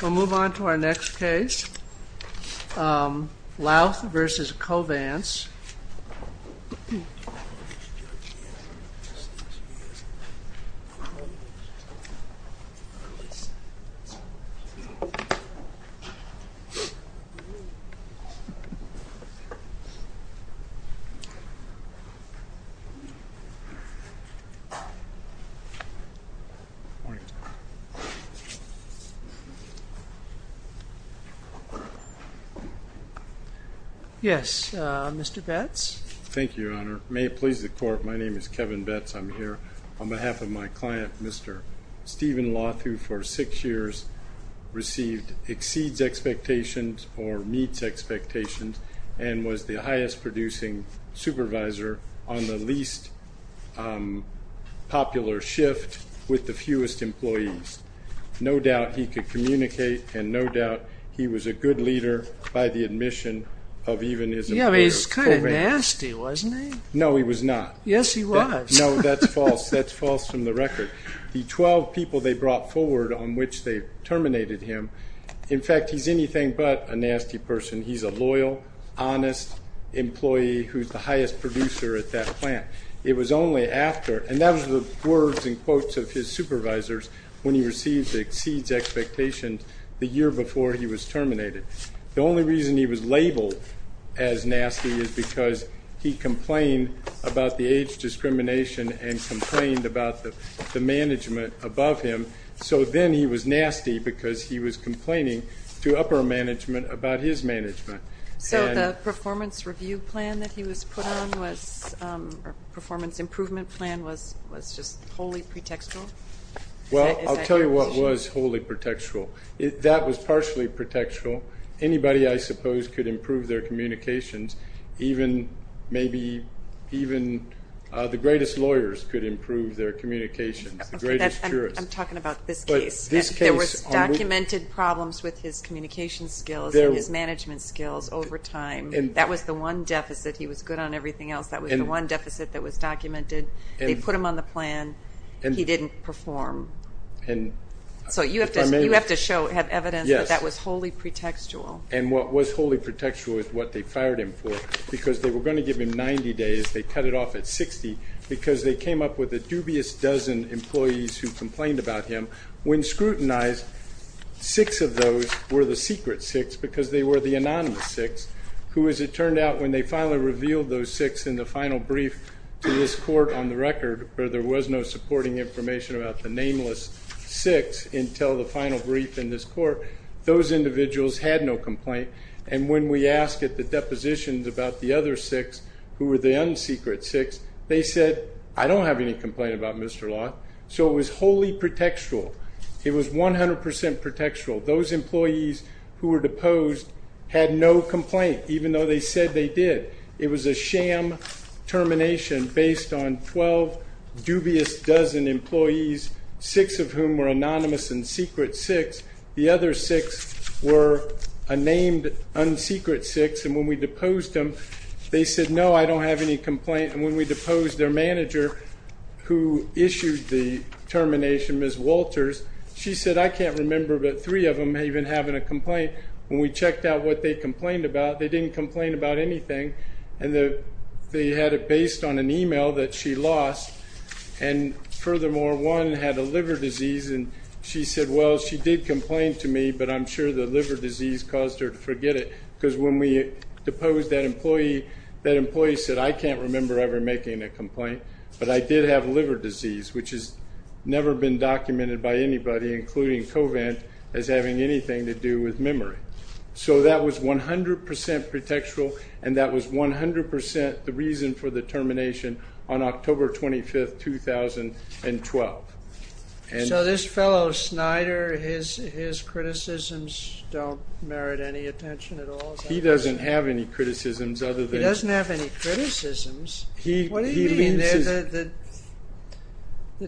We'll move on to our next case, Lauth v. Covance. Yes, Mr. Betts? Thank you, Your Honor. May it please the Court, my name is Kevin Betts. I'm here on behalf of my client, Mr. Stephen Lauth, who for six years received exceeds expectations or meets expectations and was the highest producing supervisor on the least popular shift with the fewest employees. No doubt he could communicate and no doubt he was a good leader by the admission of even his employer, Covance. Yeah, I mean, he was kind of nasty, wasn't he? No, he was not. Yes, he was. No, that's false. That's false from the record. The 12 people they brought forward on which they terminated him, in fact, he's anything but a nasty person. He's a loyal, honest employee who's the highest producer at that plant. It was only after, and that was the words and quotes of his supervisors when he received the exceeds expectations the year before he was terminated. The only reason he was labeled as nasty is because he complained about the age discrimination and complained about the management above him. So then he was nasty because he was complaining to upper management about his management. So the performance review plan that he was put on was, or performance improvement plan was just wholly pretextual? Well, I'll tell you what was wholly pretextual. That was partially pretextual. Anybody I suppose could improve their communications, even maybe, even the greatest lawyers could improve their communications, the greatest jurists. I'm talking about this case. There was documented problems with his communication skills and his management skills over time. That was the one deficit. He was good on everything else. That was the one deficit that was documented. They put him on the plan. He didn't perform. So you have to show, have evidence that that was wholly pretextual. And what was wholly pretextual is what they fired him for because they were going to give him 90 days. They cut it off at 60 because they came up with a dubious dozen employees who complained about him. When scrutinized, six of those were the secret six because they were the anonymous six who as it turned out, when they finally revealed those six in the final brief to this court on the record where there was no supporting information about the nameless six until the final brief in this court, those individuals had no complaint. And when we asked at the depositions about the other six who were the unsecret six, they said, I don't have any complaint about Mr. Law. So it was wholly pretextual. It was 100% pretextual. Those employees who were deposed had no complaint, even though they said they did. It was a sham termination based on 12 dubious dozen employees, six of whom were anonymous and secret six. The other six were a named unsecret six and when we deposed them, they said, no, I don't have any complaint. And when we deposed their manager who issued the termination, Ms. Walters, she said, I can't remember, but three of them may have been having a complaint. When we checked out what they complained about, they didn't complain about anything. And they had it based on an email that she lost and furthermore, one had a liver disease and she said, well, she did complain to me, but I'm sure the liver disease caused her to forget it. Because when we deposed that employee, that employee said, I can't remember ever making a complaint, but I did have liver disease, which has never been documented by anybody, including Covent, as having anything to do with memory. So that was 100% pretextual and that was 100% the reason for the termination on October 25th, 2012. So this fellow Snyder, his criticisms don't merit any attention at all? He doesn't have any criticisms other than... He doesn't have any criticisms? What do you mean? The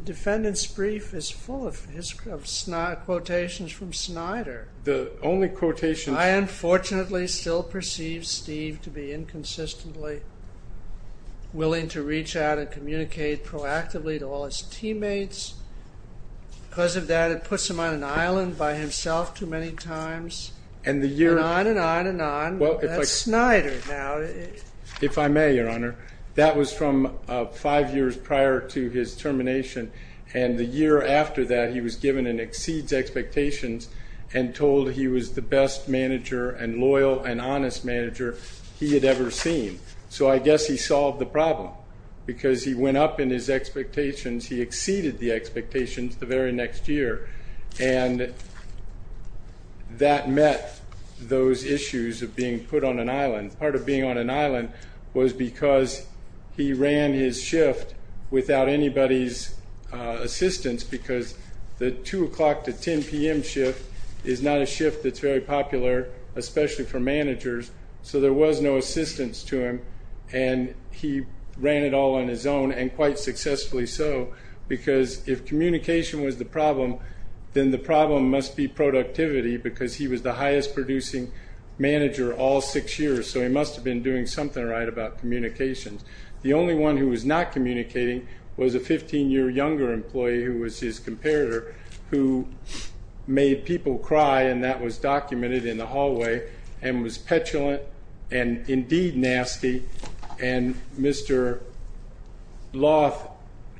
defendant's brief is full of his quotations from Snyder. The only quotation... I unfortunately still perceive Steve to be inconsistently willing to reach out and communicate proactively to all his teammates. Because of that, it puts him on an island by himself too many times. And the year... And on and on and on. Well, if I... That's Snyder now. If I may, Your Honor, that was from five years prior to his termination. And the year after that, he was given an exceeds expectations and told he was the best manager and loyal and honest manager he had ever seen. So I guess he solved the problem because he went up in his expectations. He exceeded the expectations the very next year and that met those issues of being put on an island. Part of being on an island was because he ran his shift without anybody's assistance because the 2 o'clock to 10 p.m. shift is not a shift that's very popular, especially for managers. So there was no assistance to him and he ran it all on his own and quite successfully so because if communication was the problem, then the problem must be productivity because he was the highest producing manager all six years. So he must have been doing something right about communications. The only one who was not communicating was a 15-year younger employee who was his comparator who made people cry and that was documented in the hallway and was petulant and indeed nasty and Mr. Loth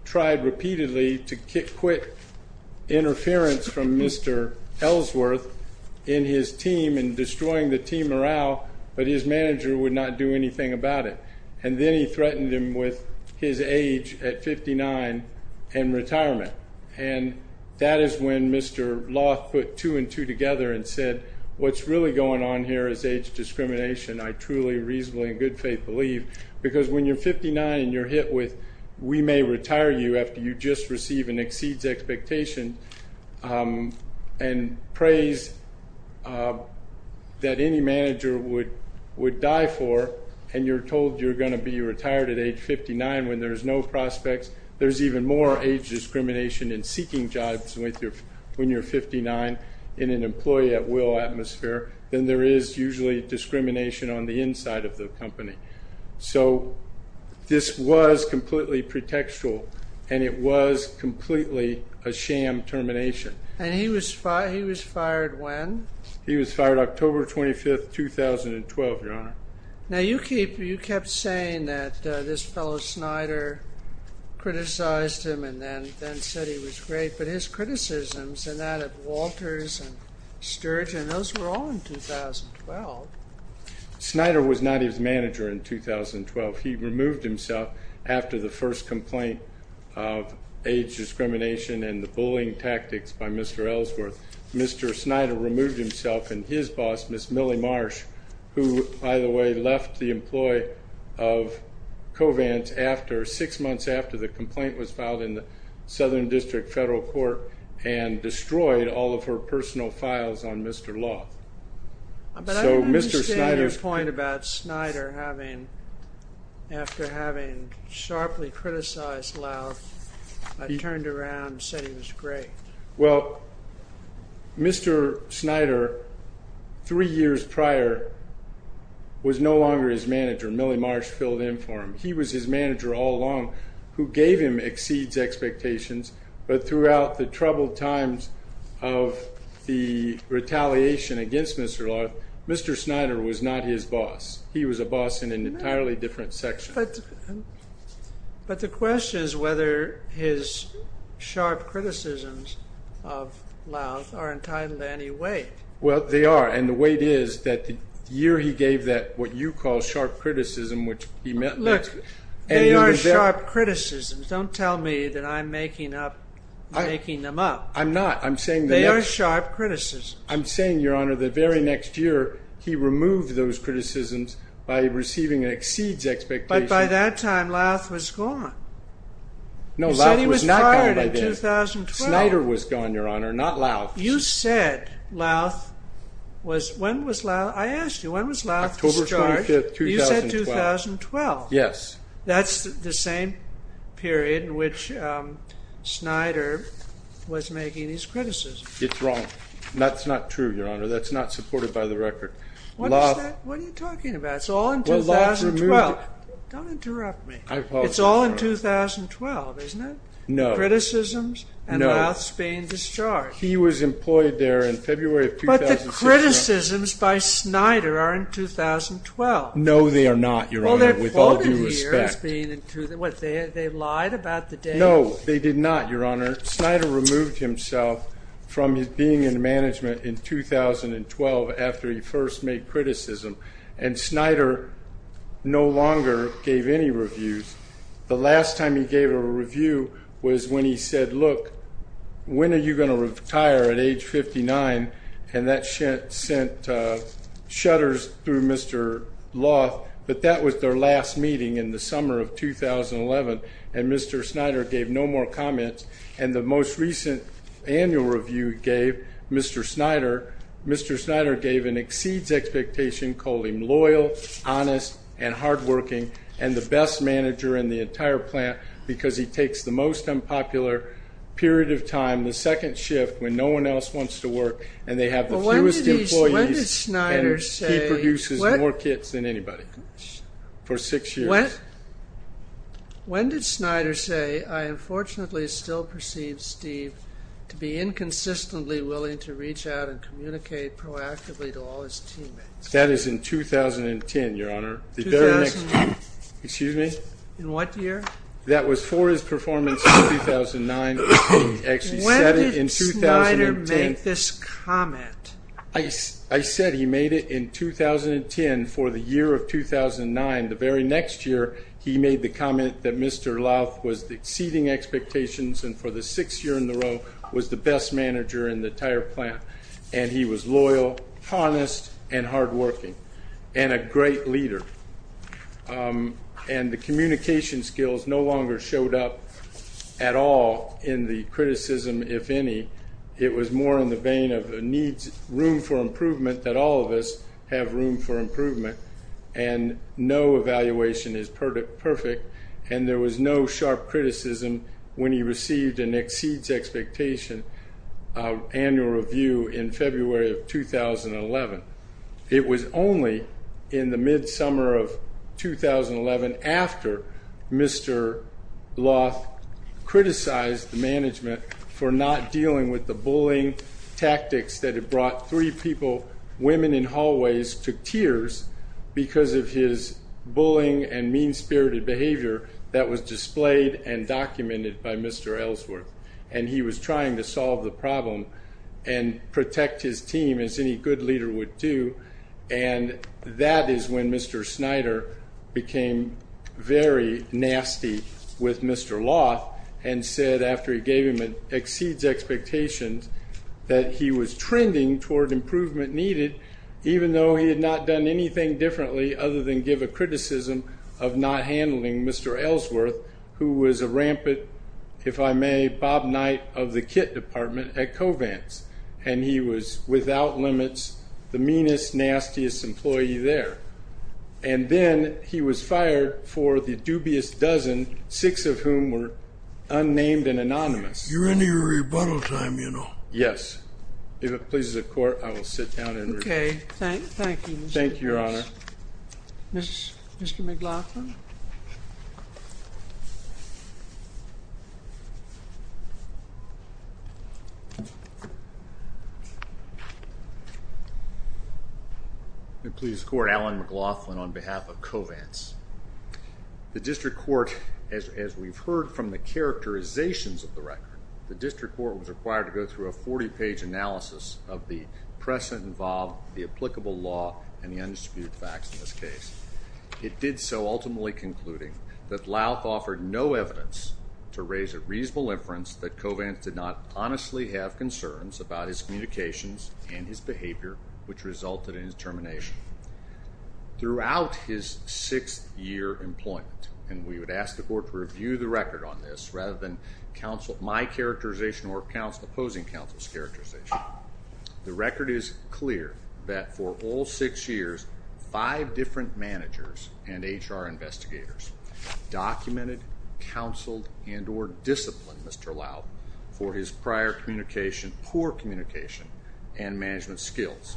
tried repeatedly to quit interference from Mr. Ellsworth in his team and destroying the team morale but his manager would not do anything about it. And then he threatened him with his age at 59 and retirement. And that is when Mr. Loth put two and two together and said, what's really going on here is age discrimination. I truly reasonably in good faith believe because when you're 59 and you're hit with we may retire you after you just receive an exceeds expectation and praise that any manager would die for and you're told you're going to be retired at age 59 when there's no prospects, there's even more age discrimination in seeking jobs when you're 59 in an employee at will atmosphere than there is usually discrimination on the inside of the company. So this was completely pretextual and it was completely a sham termination. And he was fired when? He was fired October 25, 2012, Your Honor. Now you keep, you kept saying that this fellow Snyder criticized him and then said he was great, but his criticisms and that of Walters and Sturgeon, those were all in 2012. Snyder was not his manager in 2012. He removed himself after the first complaint of age discrimination and the bullying tactics by Mr. Ellsworth. Mr. Snyder removed himself and his boss, Ms. Millie Marsh, who by the way, left the employee of Covance after six months after the complaint was filed in the Southern District Federal Court and destroyed all of her personal files on Mr. Loth. But I understand your point about Snyder having, after having sharply criticized Loth, turned around and said he was great. Well, Mr. Snyder, three years prior, was no longer his manager. Millie Marsh filled in for him. He was his manager all along, who gave him exceeds expectations. But throughout the troubled times of the retaliation against Mr. Loth, Mr. Snyder was not his boss. He was a boss in an entirely different section. But the question is whether his sharp criticisms of Loth are entitled to any weight. Well, they are. And the weight is that the year he gave that, what you call sharp criticism, which he meant Look, they are sharp criticisms. Don't tell me that I'm making up, making them up. I'm not. I'm saying they are sharp criticisms. I'm saying, Your Honor, the very next year, he removed those criticisms by receiving exceeds expectations. But by that time, Loth was gone. No, Loth was not gone by then. You said he was fired in 2012. Snyder was gone, Your Honor, not Loth. You said Loth was, when was Loth, I asked you, when was Loth discharged? October 25th, 2012. You said 2012. Yes. That's the same period in which Snyder was making his criticism. It's wrong. That's not true, Your Honor. That's not supported by the record. What is that? What are you talking about? It's all in 2012. Don't interrupt me. It's all in 2012, isn't it? No. Criticisms and Loth's being discharged. He was employed there in February of 2012. But the criticisms by Snyder are in 2012. No, they are not, Your Honor, with all due respect. Well, they're quoted here as being in, what, they lied about the date? No, they did not, Your Honor. Snyder removed himself from being in management in 2012 after he first made criticism, and Snyder no longer gave any reviews. The last time he gave a review was when he said, look, when are you going to retire at age 59? And that sent shudders through Mr. Loth, but that was their last meeting in the summer of 2011, and Mr. Snyder gave no more comments. And the most recent annual review gave Mr. Snyder, Mr. Snyder gave an exceeds expectation, called him loyal, honest, and hardworking, and the best manager in the entire plant, because he takes the most unpopular period of time, the second shift when no one else wants to work, and they have the fewest employees, and he produces more kits than anybody for six years. When did Snyder say, I unfortunately still perceive Steve to be inconsistently willing to reach out and communicate proactively to all his teammates? That is in 2010, Your Honor. In what year? That was for his performance in 2009. When did Snyder make this comment? I said he made it in 2010 for the year of 2009. The very next year, he made the comment that Mr. Loth was exceeding expectations, and for the sixth year in a row, was the best manager in the entire plant, and he was loyal, honest, and hardworking, and a great leader, and the communication skills no longer showed up at all in the criticism, if any. It was more in the vein of needs room for improvement, that all of us have room for improvement, and no evaluation is perfect, and there was no sharp criticism when he received an exceeds expectation annual review in February of 2011. It was only in the mid-summer of 2011, after Mr. Loth criticized the management for not dealing with the bullying tactics that had brought three people, women in hallways, to tears because of his bullying and mean-spirited behavior that was Mr. Ellsworth, and he was trying to solve the problem and protect his team as any good leader would do, and that is when Mr. Snyder became very nasty with Mr. Loth and said, after he gave him an exceeds expectations, that he was trending toward improvement needed, even though he had not done anything differently other than give a criticism of not handling Mr. Ellsworth, who was a rampant, if I may, Bob Knight of the kit department at Covance, and he was, without limits, the meanest, nastiest employee there, and then he was fired for the dubious dozen, six of whom were unnamed and anonymous. You're in your rebuttal time, you know. Yes. If it pleases the court, I will sit down and rebut. Okay. Thank you, Mr. Lewis. Thank you, Your Honor. Mr. McLaughlin. If it pleases the court, Alan McLaughlin on behalf of Covance. The district court, as we've heard from the characterizations of the record, the district court was required to go through a 40-page analysis of the precedent involved, the applicable law, and the undisputed facts in this case. It did so, ultimately concluding that Louth offered no evidence to raise a reasonable inference that Covance did not honestly have concerns about his communications and his behavior, which resulted in his termination. Throughout his sixth year employment, and we would ask the court to review the record on this rather than my characterization or opposing counsel's characterization, the record is clear that for all six years, five different managers and HR investigators documented, counseled, and or disciplined Mr. Louth for his prior communication, poor communication and management skills.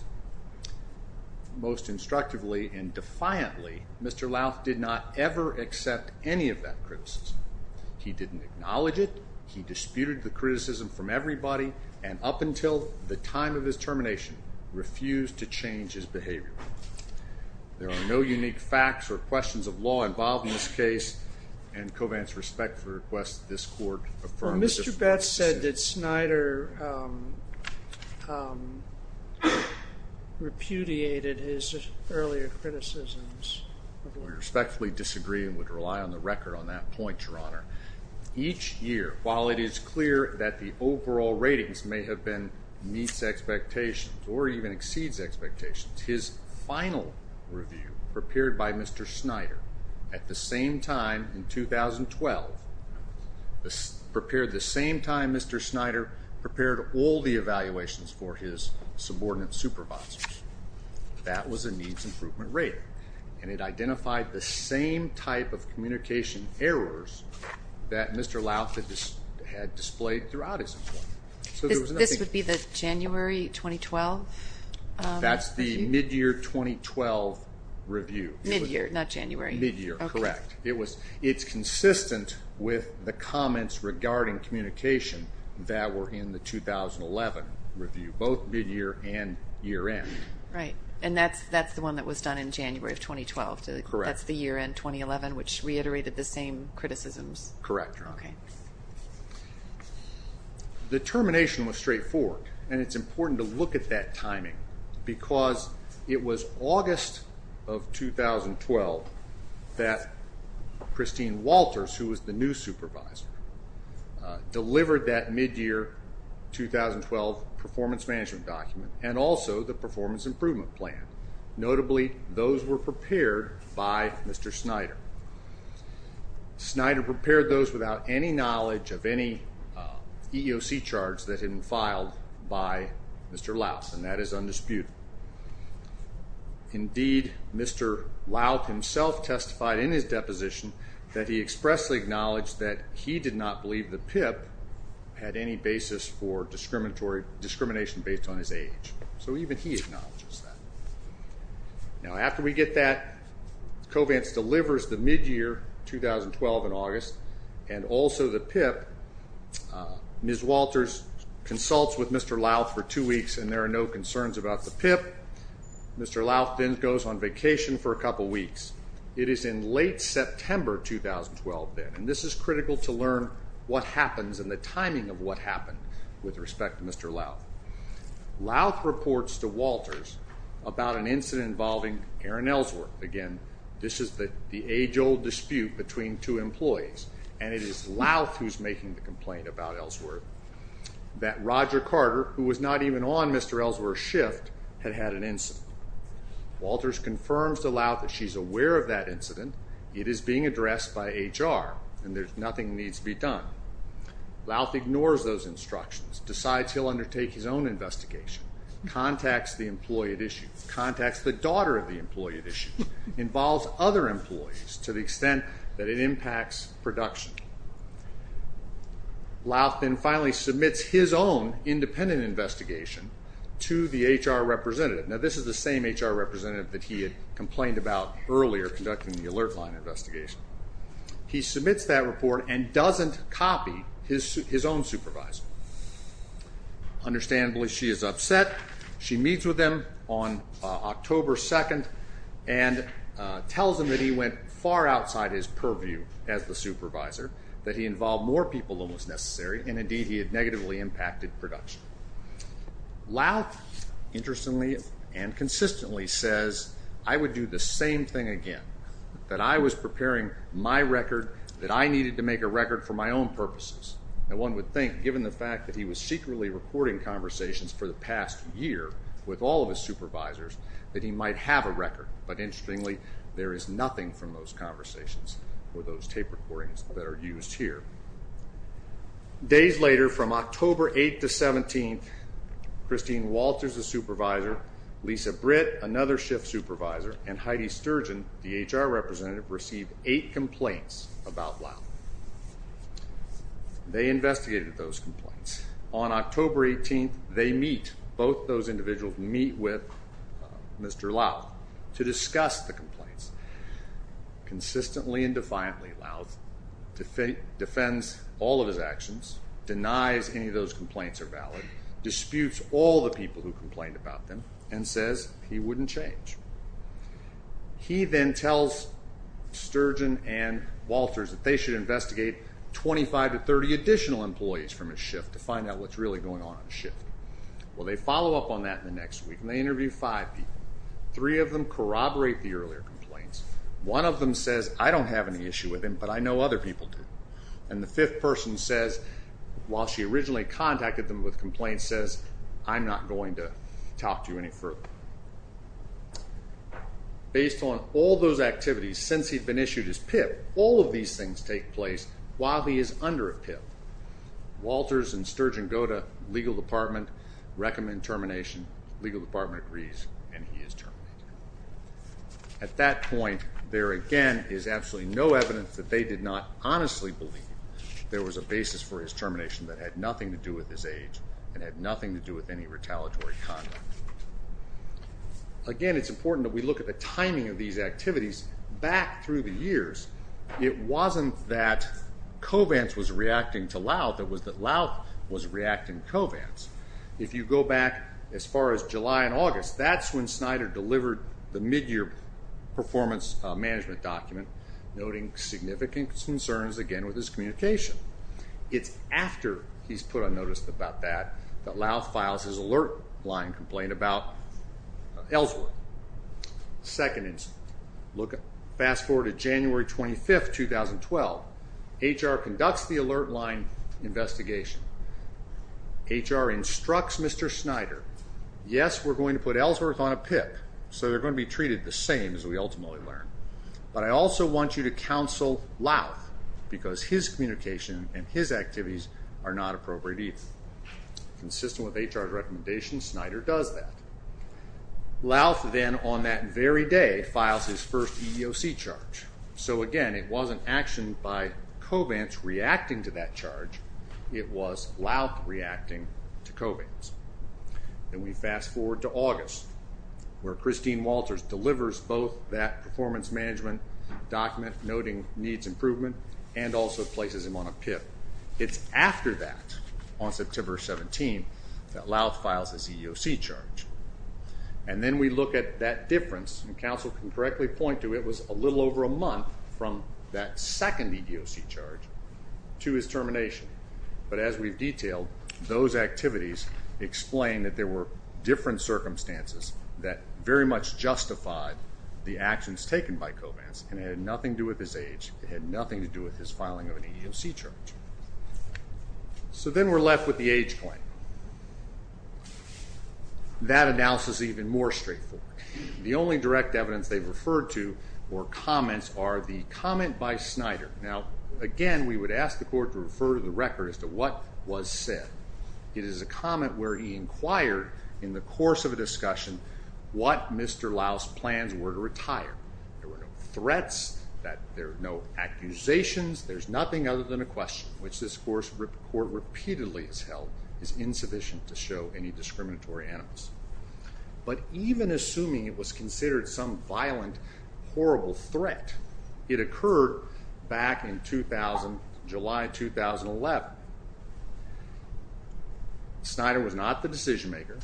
Most instructively and defiantly, Mr. Louth did not ever accept any of that criticism. He didn't acknowledge it. He disputed the criticism from everybody and up until the time of his termination, refused to change his behavior. There are no unique facts or questions of law involved in this case and Covance respectfully requests that this court affirm the Mr. Betz said that Snyder, um, um, repudiated his earlier criticisms. We respectfully disagree and would rely on the record on that point, Your Honor. Each year, while it is clear that the overall ratings may have been meets expectations or even exceeds expectations, his final review prepared by Mr. Snyder at the same time in 2012, this prepared the same time Mr. Snyder prepared all the evaluations for his subordinate supervisors. That was a needs improvement rate and it identified the same type of communication errors that Mr. Louth had displayed throughout his employment. So this would be the January, 2012? That's the mid-year 2012 review. Mid-year, not January. Mid-year, correct. It was, it's consistent with the comments regarding communication that were in the 2011 review, both mid-year and year-end. Right. And that's, that's the one that was done in January of 2012. That's the year-end 2011, which reiterated the same criticisms. Correct, Your Honor. Okay. The termination was straightforward and it's important to look at that timing because it was August of 2012 that Christine Walters, who was the new supervisor, delivered that mid-year 2012 performance management document and also the performance improvement plan. Notably, those were prepared by Mr. Snyder. Snyder prepared those without any knowledge of any EEOC charge that had been filed by Mr. Louth, and that is undisputed. Indeed, Mr. Louth himself testified in his deposition that he expressly acknowledged that he did not believe the PIP had any basis for discrimination based on his age. So even he acknowledges that. Now, after we get that, Covance delivers the mid-year 2012 in August and also the PIP. Ms. Walters consults with Mr. Louth for two weeks and there are no concerns about the PIP. Mr. Louth then goes on vacation for a couple of weeks. It is in late September, 2012 then, and this is critical to learn what happens and the timing of what happened with respect to Mr. Louth. Louth reports to Walters about an incident involving Aaron Ellsworth. Again, this is the age old dispute between two employees and it is Louth who's making the complaint about Ellsworth that Roger Carter, who was not even on Mr. Ellsworth's shift, had had an incident. Walters confirms to Louth that she's aware of that incident. It is being addressed by HR and there's nothing needs to be done. Louth ignores those instructions, decides he'll undertake his own investigation, contacts the employee at issue, contacts the daughter of the employee at issue, involves other employees to the extent that it impacts production. Louth then finally submits his own independent investigation to the HR representative. Now, this is the same HR representative that he had complained about earlier conducting the alert line investigation. He submits that report and doesn't copy his own supervisor. Understandably, she is upset. She meets with him on October 2nd and tells him that he went far outside his purview as the supervisor, that he involved more people than was necessary and indeed he had negatively impacted production. Louth interestingly and consistently says, I would do the same thing again, that I was preparing my record, that I needed to make a record for my own purposes. And one would think, given the fact that he was secretly recording conversations for the past year with all of his supervisors, that he might have a record. But interestingly, there is nothing from those conversations or those tape recordings that are used here. Days later, from October 8th to 17th, Christine Walters, the supervisor, Lisa Britt, another shift supervisor, and Heidi Sturgeon, the HR representative, received eight complaints about loud. They investigated those complaints on October 18th. They meet both those individuals meet with Mr Lau to discuss the complaints consistently and defiantly. Loud to fake defends all of his actions, denies any of those complaints are he wouldn't change. He then tells Sturgeon and Walters that they should investigate 25 to 30 additional employees from his shift to find out what's really going on on the shift. Well, they follow up on that in the next week and they interview five people. Three of them corroborate the earlier complaints. One of them says, I don't have any issue with him, but I know other people do. And the fifth person says, while she originally contacted them with complaints, says, I'm not going to talk to you any further. Based on all those activities, since he'd been issued his PIP, all of these things take place while he is under a PIP. Walters and Sturgeon go to legal department, recommend termination, legal department agrees, and he is terminated. At that point, there again is absolutely no evidence that they did not honestly believe there was a basis for his termination that had nothing to do with his age and had nothing to do with any retaliatory conduct. Again, it's important that we look at the timing of these activities back through the years, it wasn't that Covance was reacting to Louth, it was that Louth was reacting to Covance. If you go back as far as July and August, that's when Snyder delivered the mid-year performance management document noting significant concerns, again, with his communication. It's after he's put on notice about that, that Louth files his alert line complaint about Ellsworth. Second instance, fast forward to January 25th, 2012, HR conducts the alert line investigation. HR instructs Mr. Snyder, yes, we're going to put Ellsworth on a PIP, so they're going to be treated the same as we ultimately learn. But I also want you to counsel Louth because his communication and his activities are not appropriate either. Consistent with HR's recommendation, Snyder does that. Louth then on that very day files his first EEOC charge. So again, it wasn't action by Covance reacting to that charge, it was Louth reacting to Covance. Then we fast forward to August, where Christine Walters delivers both that performance management document noting needs improvement and also places him on a PIP. It's after that, on September 17th, that Louth files his EEOC charge. And then we look at that difference, and counsel can correctly point to it, it was a little over a month from that second EEOC charge to his termination. But as we've detailed, those activities explain that there were different circumstances that very much justified the actions taken by Covance and it had nothing to do with his age, it had nothing to do with his filing of an EEOC charge. So then we're left with the age claim. That analysis is even more straightforward. The only direct evidence they've referred to or comments are the comment by Snyder. Now, again, we would ask the court to refer to the record as to what was said. It is a comment where he inquired in the course of a discussion what Mr. Louth's plans were to retire. There were no threats, there were no accusations, there's nothing other than a question, which this court repeatedly has held is insufficient to show any discriminatory animals. But even assuming it was considered some violent, horrible threat, it occurred back in July 2011, Snyder was not the decision maker,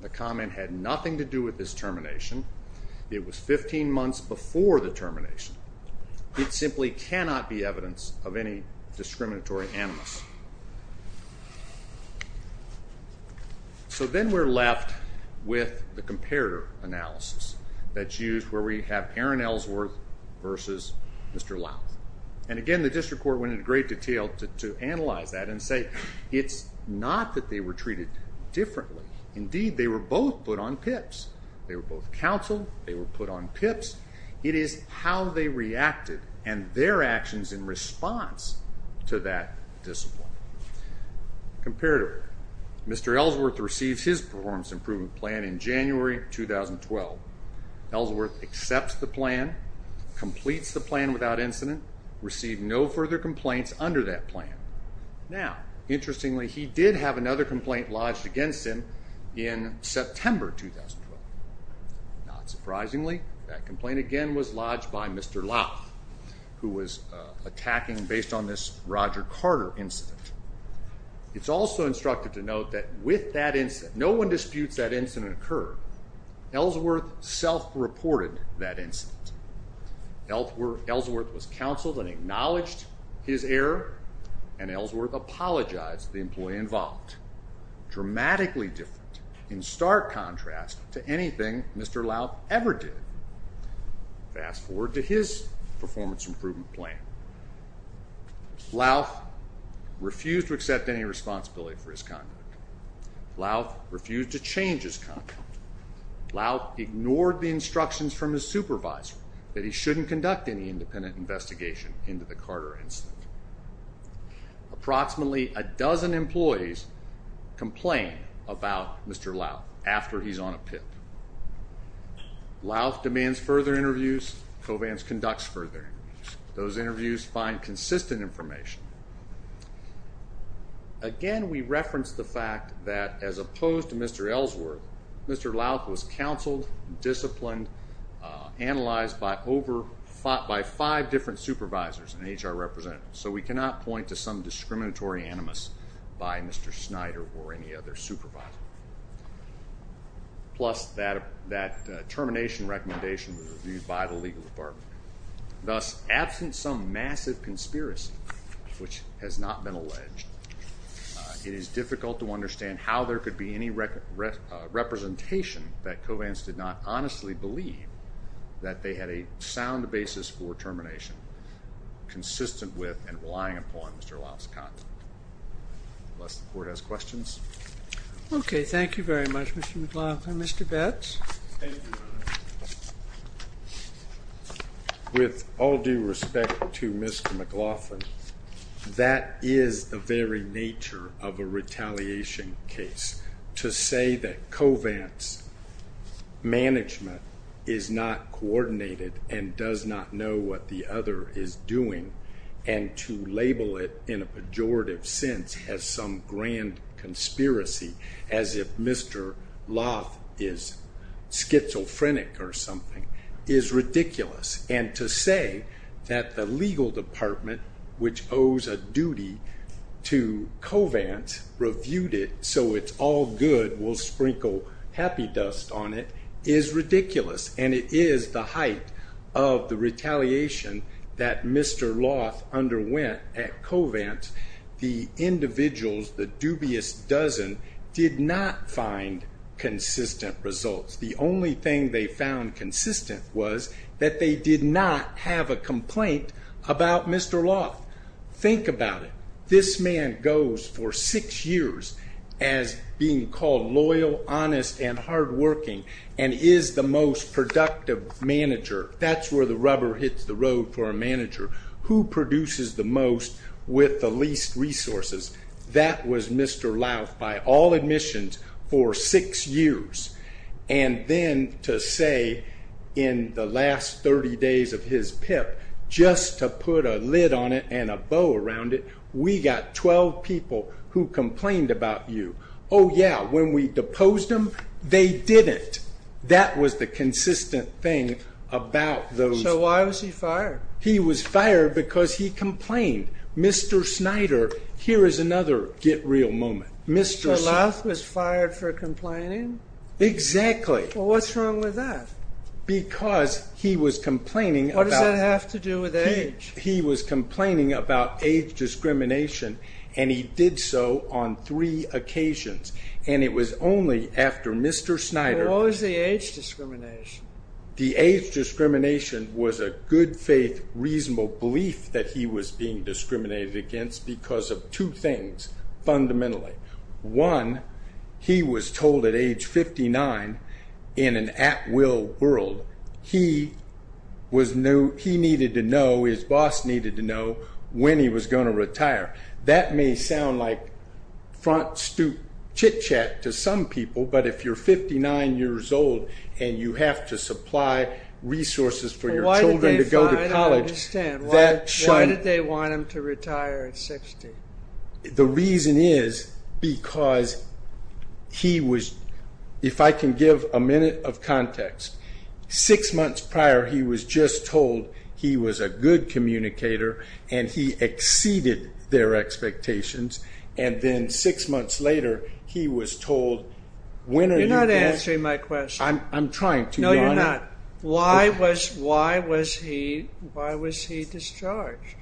the comment had nothing to do with his termination, it was 15 months before the termination, it simply cannot be evidence of any discriminatory animals. So then we're left with the comparator analysis that's used where we have Aaron Ellsworth versus Mr. Louth. And again, the district court went into great detail to analyze that and say, it's not that they were treated differently. Indeed, they were both put on PIPs. They were both counseled, they were put on PIPs. It is how they reacted and their actions in response to that discipline. Comparator, Mr. Ellsworth receives his performance improvement plan in January 2012, Ellsworth accepts the plan, completes the plan without incident, received no further complaints under that plan. Now, interestingly, he did have another complaint lodged against him in September 2012. Not surprisingly, that complaint again was lodged by Mr. Louth, who was attacking based on this Roger Carter incident. It's also instructive to note that with that incident, no one disputes that incident occurred. Ellsworth self-reported that incident. Ellsworth was counseled and acknowledged his error and Ellsworth apologized to the employee involved. Dramatically different in stark contrast to anything Mr. Louth ever did. Fast forward to his performance improvement plan. Louth refused to accept any responsibility for his conduct. Louth refused to change his conduct. Louth ignored the instructions from his supervisor that he shouldn't conduct any independent investigation into the Carter incident. Approximately a dozen employees complained about Mr. Louth after he's on a PIP. Louth demands further interviews, Covance conducts further interviews. Those interviews find consistent information. Again, we reference the fact that as opposed to Mr. Ellsworth, Mr. Louth was counseled, disciplined, analyzed by five different supervisors and HR representatives, so we cannot point to some discriminatory animus by Mr. Snyder or any other supervisor. Plus, that termination recommendation was reviewed by the legal department. Thus, absent some massive conspiracy, which has not been alleged, it is difficult to understand how there could be any representation that Covance did not honestly believe that they had a sound basis for termination, consistent with and relying upon Mr. Louth's conduct. Unless the court has questions. Okay, thank you very much, Mr. McLaughlin. Mr. Betz? Thank you, Your Honor. With all due respect to Mr. McLaughlin, that is the very nature of a case where management is not coordinated and does not know what the other is doing, and to label it in a pejorative sense as some grand conspiracy, as if Mr. Louth is schizophrenic or something, is ridiculous, and to say that the legal department, which owes a duty to is ridiculous, and it is the height of the retaliation that Mr. Louth underwent at Covance, the individuals, the dubious dozen, did not find consistent results. The only thing they found consistent was that they did not have a complaint about Mr. Louth. Think about it. This man goes for six years as being called loyal, honest, and hardworking, and is the most productive manager. That's where the rubber hits the road for a manager. Who produces the most with the least resources? That was Mr. Louth by all admissions for six years, and then to say in the last 30 days of his PIP, just to put a lid on it and a bow around it, we got 12 people who complained about you. Oh yeah, when we deposed them, they did it. That was the consistent thing about those... So why was he fired? He was fired because he complained. Mr. Snyder, here is another get real moment. Mr. Louth was fired for complaining? Exactly. Well, what's wrong with that? Because he was complaining about... What does that have to do with age? He was complaining about age discrimination, and he did so on three occasions, and it was only after Mr. Snyder... What was the age discrimination? The age discrimination was a good faith, reasonable belief that he was being discriminated against because of two things, fundamentally. One, he was told at age 59, in an at-will world, he needed to know, his boss needed to know, when he was going to retire. That may sound like front stoop chit-chat to some people, but if you're 59 years old and you have to supply resources for your children to go to college, that shouldn't... I don't understand. Why did they want him to retire at 60? The reason is because he was... If I can give a minute of context. Six months prior, he was just told he was a good communicator, and he exceeded their expectations, and then six months later, he was told... You're not answering my question. I'm trying to. No, you're not. Why was he discharged?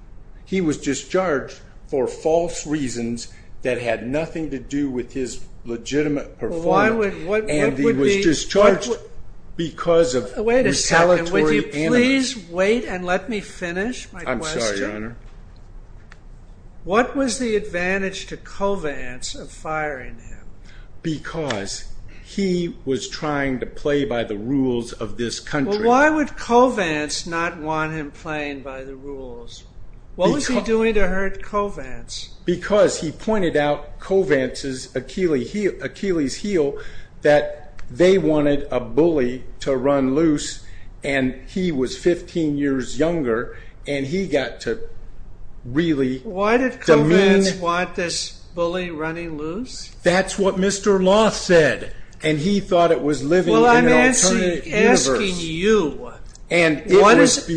He was discharged for false reasons that had nothing to do with his legitimate performance, and he was discharged because of retaliatory animus. Please wait and let me finish my question. I'm sorry, Your Honor. What was the advantage to Covance of firing him? Because he was trying to play by the rules of this country. Why would Covance not want him playing by the rules? What was he doing to hurt Covance? Because he pointed out Covance's Achilles heel, that they were 15 years younger, and he got to really demean... Why did Covance want this bully running loose? That's what Mr. Loth said, and he thought it was living in an alternate universe. Well, I'm asking you.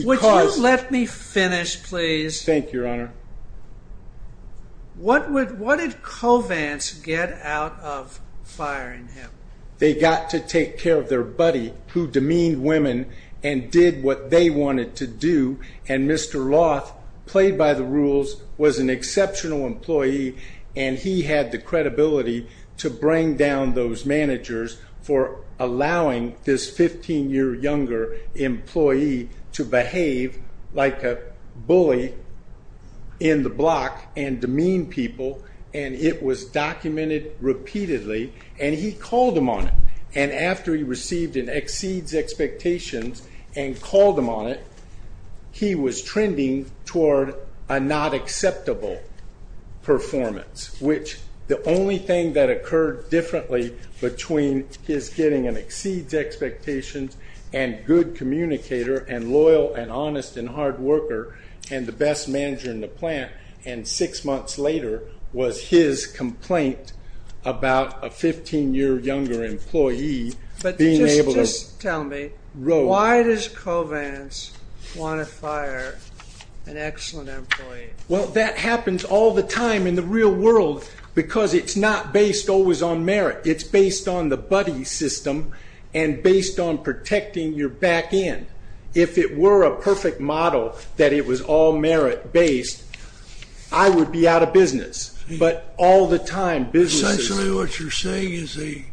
Would you let me finish, please? Thank you, Your Honor. What did Covance get out of firing him? They got to take care of their buddy who demeaned women and did what they wanted to do. And Mr. Loth, played by the rules, was an exceptional employee, and he had the credibility to bring down those managers for allowing this 15-year-younger employee to behave like a bully in the block and demean people. And it was documented repeatedly, and he called him on it. And after he received an exceeds expectations and called him on it, he was trending toward a not acceptable performance, which the only thing that occurred differently between his getting an exceeds expectations and good communicator and loyal and honest and hard worker and the best manager in the plant, and six months later was his complaint about a 15-year-younger employee being able to... But just tell me, why does Covance want to fire an excellent employee? Well, that happens all the time in the real world because it's not based always on merit. It's based on the buddy system and based on protecting your back end. If it were a perfect model that it was all merit-based, I would be out of business. But all the time, business... Essentially what you're saying is he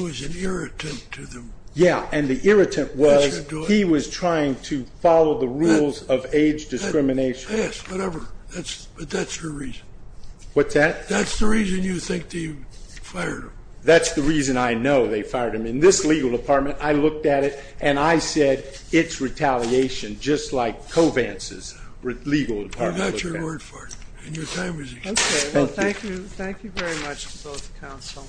was an irritant to them. Yeah, and the irritant was he was trying to follow the rules of age discrimination. Yes, whatever. But that's the reason. What's that? That's the reason you think they fired him. That's the reason I know they fired him. In this legal department, I looked at it, and I said, it's retaliation, just like Covance's legal department. You got your word for it. And your time is up. Okay, well, thank you. Thank you very much to both counsel.